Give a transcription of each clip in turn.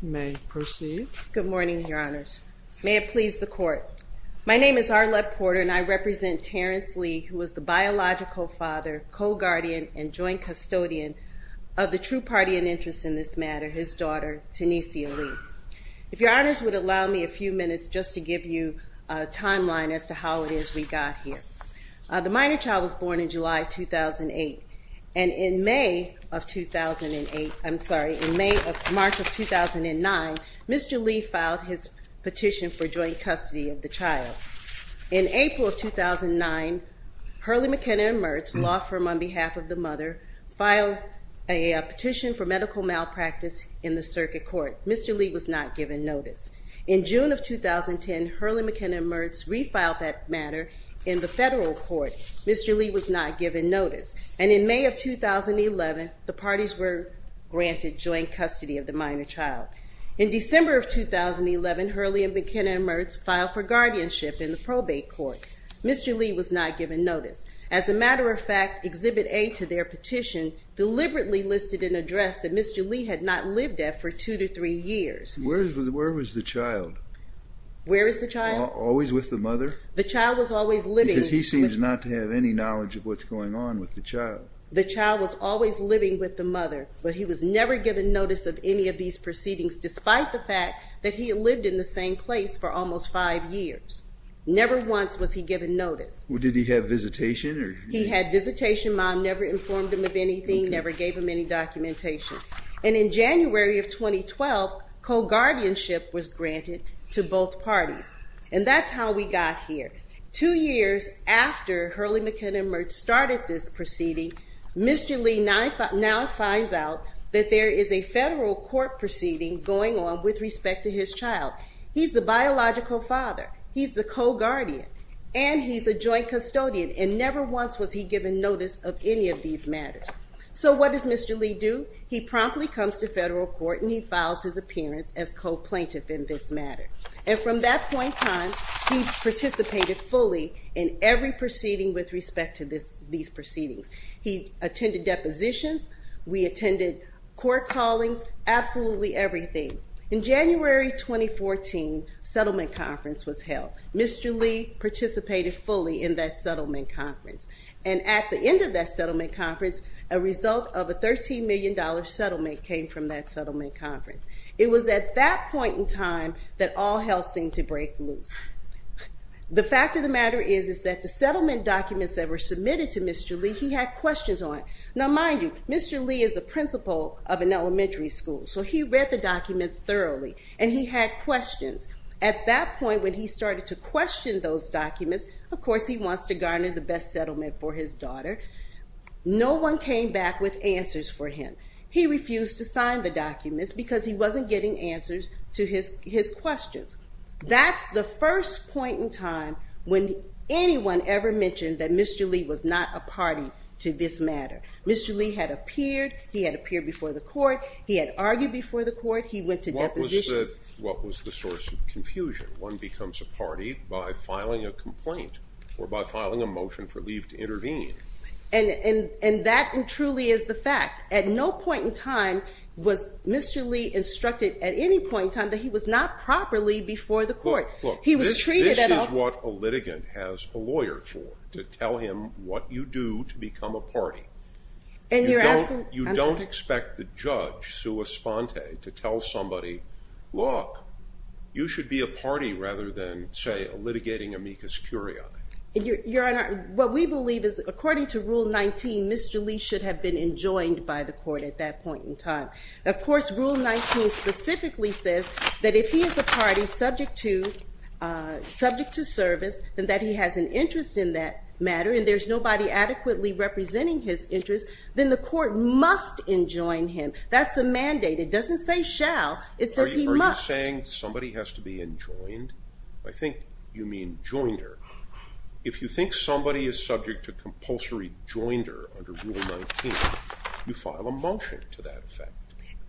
You may proceed. Good morning, your honors. May it please the court. My name is Arlette Porter, and I represent Terrence Lee, who was the biological father, co-guardian, and joint custodian of the true party and interest in this matter, his daughter, Tenesia Lee. If your honors would allow me a few minutes just to give you a timeline as to how it is we got here. The minor child was born in July 2008. And in May of 2008, I'm sorry, in March of 2009, Mr. Lee filed his petition for joint custody of the child. In April of 2009, Hurley McKenna and Mertz, law firm on behalf of the mother, filed a petition for medical malpractice in the circuit court. Mr. Lee was not given notice. In June of 2010, Hurley McKenna and Mertz refiled that matter in the federal court. Mr. Lee was not given notice. And in May of 2011, the parties were granted joint custody of the minor child. In December of 2011, Hurley and McKenna and Mertz filed for guardianship in the probate court. Mr. Lee was not given notice. As a matter of fact, Exhibit A to their petition deliberately listed an address that Mr. Lee had not lived at for two to three years. Where was the child? Where is the child? Always with the mother? The child was always living with the mother. Because he seems not to have any knowledge of what's going on with the child. The child was always living with the mother, but he was never given notice of any of these proceedings, despite the fact that he had lived in the same place for almost five years. Never once was he given notice. Well, did he have visitation? He had visitation. Mom never informed him of anything, never gave him any documentation. And in January of 2012, co-guardianship was granted to both parties. And that's how we got here. Two years after Hurley McKenna and Mertz started this proceeding, Mr. Lee now finds out that there is a federal court proceeding going on with respect to his child. He's the biological father. He's the co-guardian. And he's a joint custodian. And never once was he given notice of any of these matters. So what does Mr. Lee do? He promptly comes to federal court and he files his appearance as co-plaintiff in this matter. And from that point on, he participated fully in every proceeding with respect to these proceedings. He attended depositions. We attended court callings, absolutely everything. In January 2014, settlement conference was held. Mr. Lee participated fully in that settlement conference. And at the end of that settlement conference, a result of a $13 million settlement came from that settlement conference. It was at that point in time that all hell seemed to break loose. The fact of the matter is, is that the settlement documents that were submitted to Mr. Lee, he had questions on. Now mind you, Mr. Lee is a principal of an elementary school. So he read the documents thoroughly. And he had questions. At that point, when he started to question those documents, of course he wants to garner the best settlement for his daughter. No one came back with answers for him. He refused to sign the documents because he wasn't getting answers to his questions. That's the first point in time when anyone ever mentioned that Mr. Lee was not a party to this matter. Mr. Lee had appeared. He had appeared before the court. He had argued before the court. He went to depositions. What was the source of confusion? One becomes a party by filing a complaint or by filing a motion for leave to intervene. And that truly is the fact. At no point in time was Mr. Lee instructed, at any point in time, that he was not properly before the court. He was treated at all. This is what a litigant has a lawyer for, to tell him what you do to become a party. You don't expect the judge, sua sponte, to tell somebody, look, you should be a party rather than, say, a litigating amicus curiae. What we believe is, according to Rule 19, Mr. Lee should have been enjoined by the court at that point in time. Of course, Rule 19 specifically says that if he is a party subject to service, and that he has an interest in that matter, and there's nobody adequately representing his interest, then the court must enjoin him. That's a mandate. It doesn't say shall. It says he must. Are you saying somebody has to be enjoined? I think you mean joined her. If you think somebody is subject to compulsory joined her under Rule 19, you file a motion to that effect.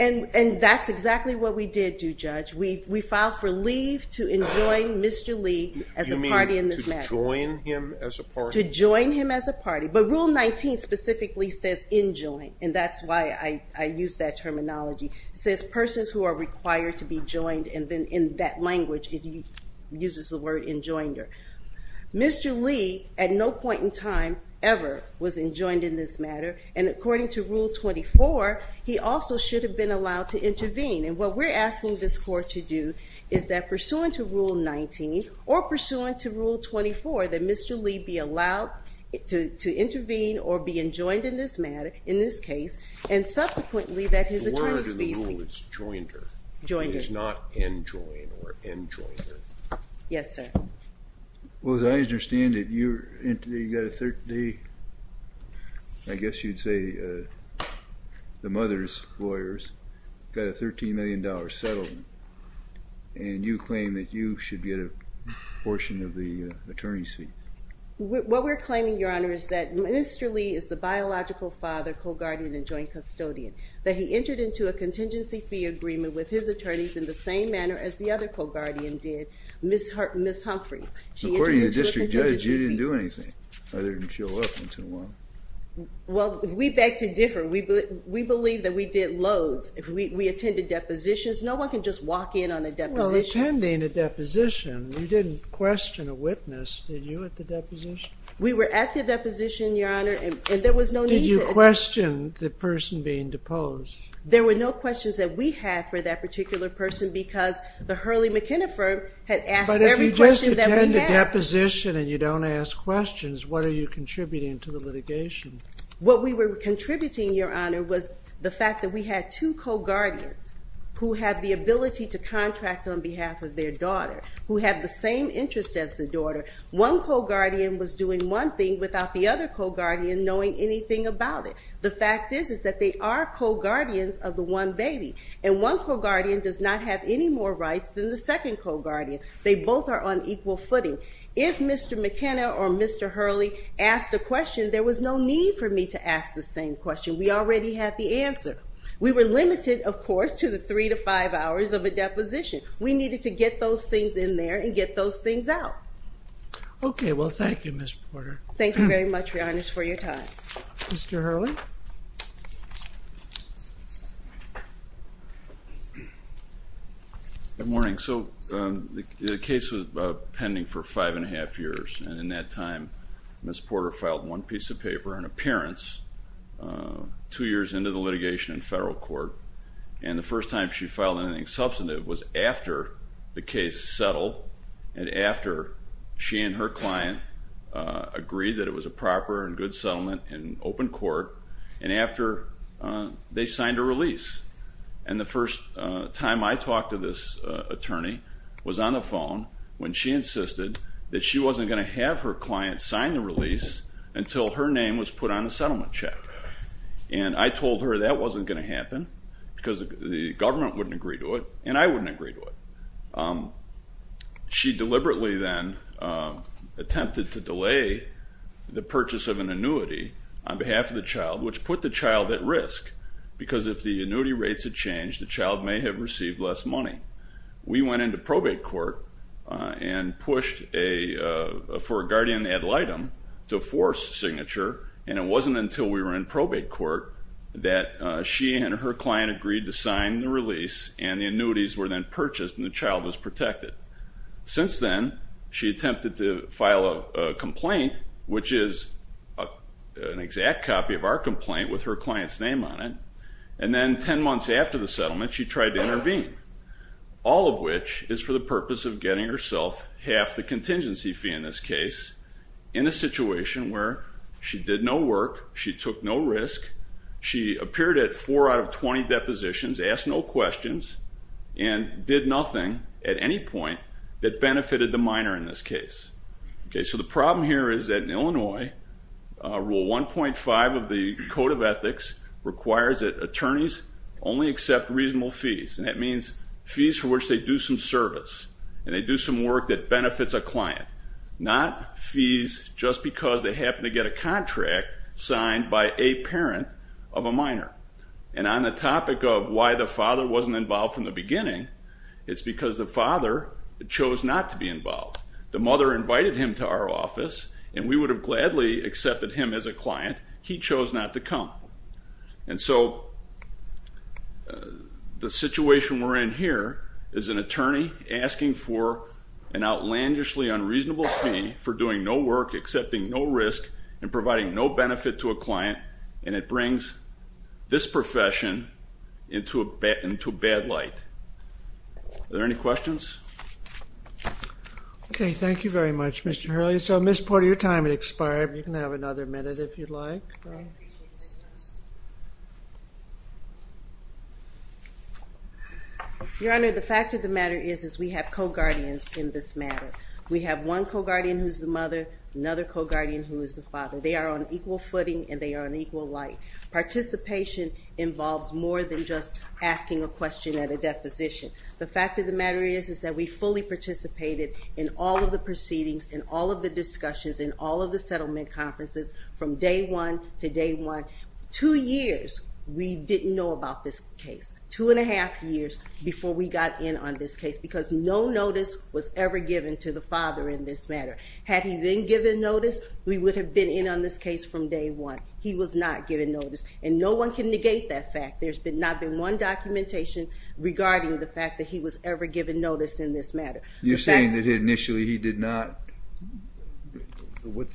And that's exactly what we did, Judge. We filed for leave to enjoin Mr. Lee as a party in this matter. You mean to join him as a party? To join him as a party. But Rule 19 specifically says enjoined, and that's why I use that terminology. It says persons who are required to be joined, and then in that language, it uses the word enjoined her. Mr. Lee, at no point in time ever, was enjoined in this matter. And according to Rule 24, he also should have been allowed to intervene. And what we're asking this court to do is that, pursuant to Rule 19, or pursuant to Rule 24, that Mr. Lee be allowed to intervene or be enjoined in this matter, in this case, and subsequently that his attorneys feel he's not enjoined or enjoined her. Yes, sir. Well, as I understand it, you got a 30, I guess you'd say the mother's lawyers, got a $13 million settlement. And you claim that you should get a portion of the attorney seat. What we're claiming, Your Honor, is that Mr. Lee is the biological father, co-guardian, and joint custodian, that he entered into a contingency fee agreement with his attorneys in the same manner as the other co-guardian did, Ms. Humphreys. According to the district judge, you didn't do anything other than show up once in a while. Well, we beg to differ. We believe that we did loads. We attended depositions. No one can just walk in on a deposition. Well, attending a deposition, you didn't question a witness, did you, at the deposition? We were at the deposition, Your Honor, and there was no need to. Did you question the person being deposed? There were no questions that we had for that particular person because the Hurley McKenna firm had asked every question that we had. But if you just attend a deposition and you don't ask questions, what are you contributing to the litigation? What we were contributing, Your Honor, was the fact that we had two co-guardians who have the ability to contract on behalf of their daughter, who have the same interest as the daughter. One co-guardian was doing one thing without the other co-guardian knowing anything about it. The fact is that they are co-guardians of the one baby. And one co-guardian does not have any more rights than the second co-guardian. They both are on equal footing. If Mr. McKenna or Mr. Hurley asked a question, there was no need for me to ask the same question. We already had the answer. We were limited, of course, to the three to five hours of a deposition. We needed to get those things in there and get those things out. OK, well, thank you, Ms. Porter. Thank you very much, Your Honor, for your time. Mr. Hurley? Good morning. So the case was pending for five and a half years. And in that time, Ms. Porter filed one piece of paper, an appearance, two years into the litigation in federal court. And the first time she filed anything substantive was after the case settled and after she and her client agreed that it was a proper and good settlement in open court and after they signed a release. And the first time I talked to this attorney was on the phone when she insisted that she wasn't going to have her client sign the release until her name was put on the settlement check. And I told her that wasn't going to happen because the government wouldn't agree to it and I wouldn't agree to it. She deliberately then attempted to delay the purchase of an annuity on behalf of the child, which put the child at risk. Because if the annuity rates had changed, the child may have received less money. We went into probate court and pushed for a guardian ad litem to force signature. And it wasn't until we were in probate court that she and her client agreed to sign the release and the annuities were then purchased and the child was protected. Since then, she attempted to file a complaint, which is an exact copy of our complaint with her client's name on it. And then 10 months after the settlement, she tried to intervene, all of which is for the purpose of getting herself half the contingency fee in this case in a situation where she did no work, she took no risk, she appeared at four out of 20 depositions, asked no questions, and did nothing at any point that benefited the minor in this case. So the problem here is that in Illinois, Rule 1.5 of the Code of Ethics requires that attorneys only accept reasonable fees. And that means fees for which they do some service and they do some work that benefits a client, not fees by a parent of a minor. And on the topic of why the father wasn't involved from the beginning, it's because the father chose not to be involved. The mother invited him to our office and we would have gladly accepted him as a client. He chose not to come. And so the situation we're in here is an attorney asking for an outlandishly unreasonable fee for doing no work, accepting no risk, and providing no benefit to a client. And it brings this profession into a bad light. Are there any questions? OK, thank you very much, Mr. Hurley. So I missed part of your time, it expired. You can have another minute, if you'd like. No, I appreciate it. Your Honor, the fact of the matter is we have co-guardians in this matter. We have one co-guardian who's the mother, another co-guardian who is the father. They are on equal footing and they are on equal light. Participation involves more than just asking a question at a deposition. The fact of the matter is that we fully participated in all of the proceedings, in all of the discussions, in all of the settlement conferences from day one to day one. Two years we didn't know about this case, two and a half years before we got in on this case. Because no notice was ever given to the father in this matter. Had he been given notice, we would have been in on this case from day one. He was not given notice. And no one can negate that fact. There's not been one documentation regarding the fact that he was ever given notice in this matter. You're saying that initially he did not, what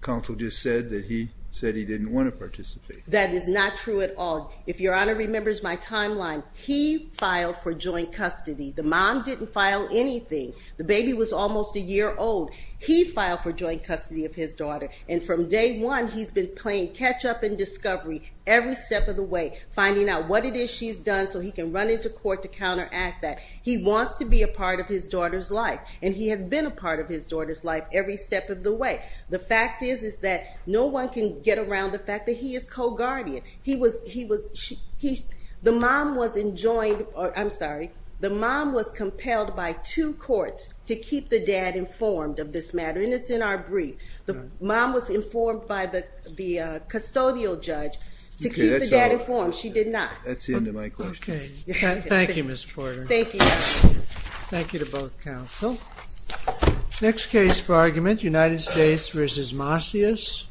counsel just said, that he said he didn't want to participate. That is not true at all. If Your Honor remembers my timeline, he filed for joint custody. The mom didn't file anything. The baby was almost a year old. He filed for joint custody of his daughter. And from day one, he's been playing catch up and discovery every step of the way, finding out what it is she's done so he can run into court to counteract that. He wants to be a part of his daughter's life. And he had been a part of his daughter's life every step of the way. The fact is that no one can get around the fact that he is co-guardian. He was, he was, the mom was enjoined, I'm sorry, the mom was compelled by two courts to keep the dad informed of this matter. And it's in our brief. The mom was informed by the custodial judge to keep the dad informed. She did not. That's the end of my question. Okay. Thank you, Ms. Porter. Thank you, Your Honor. Thank you to both counsel. Next case for argument, United States v. Marcius.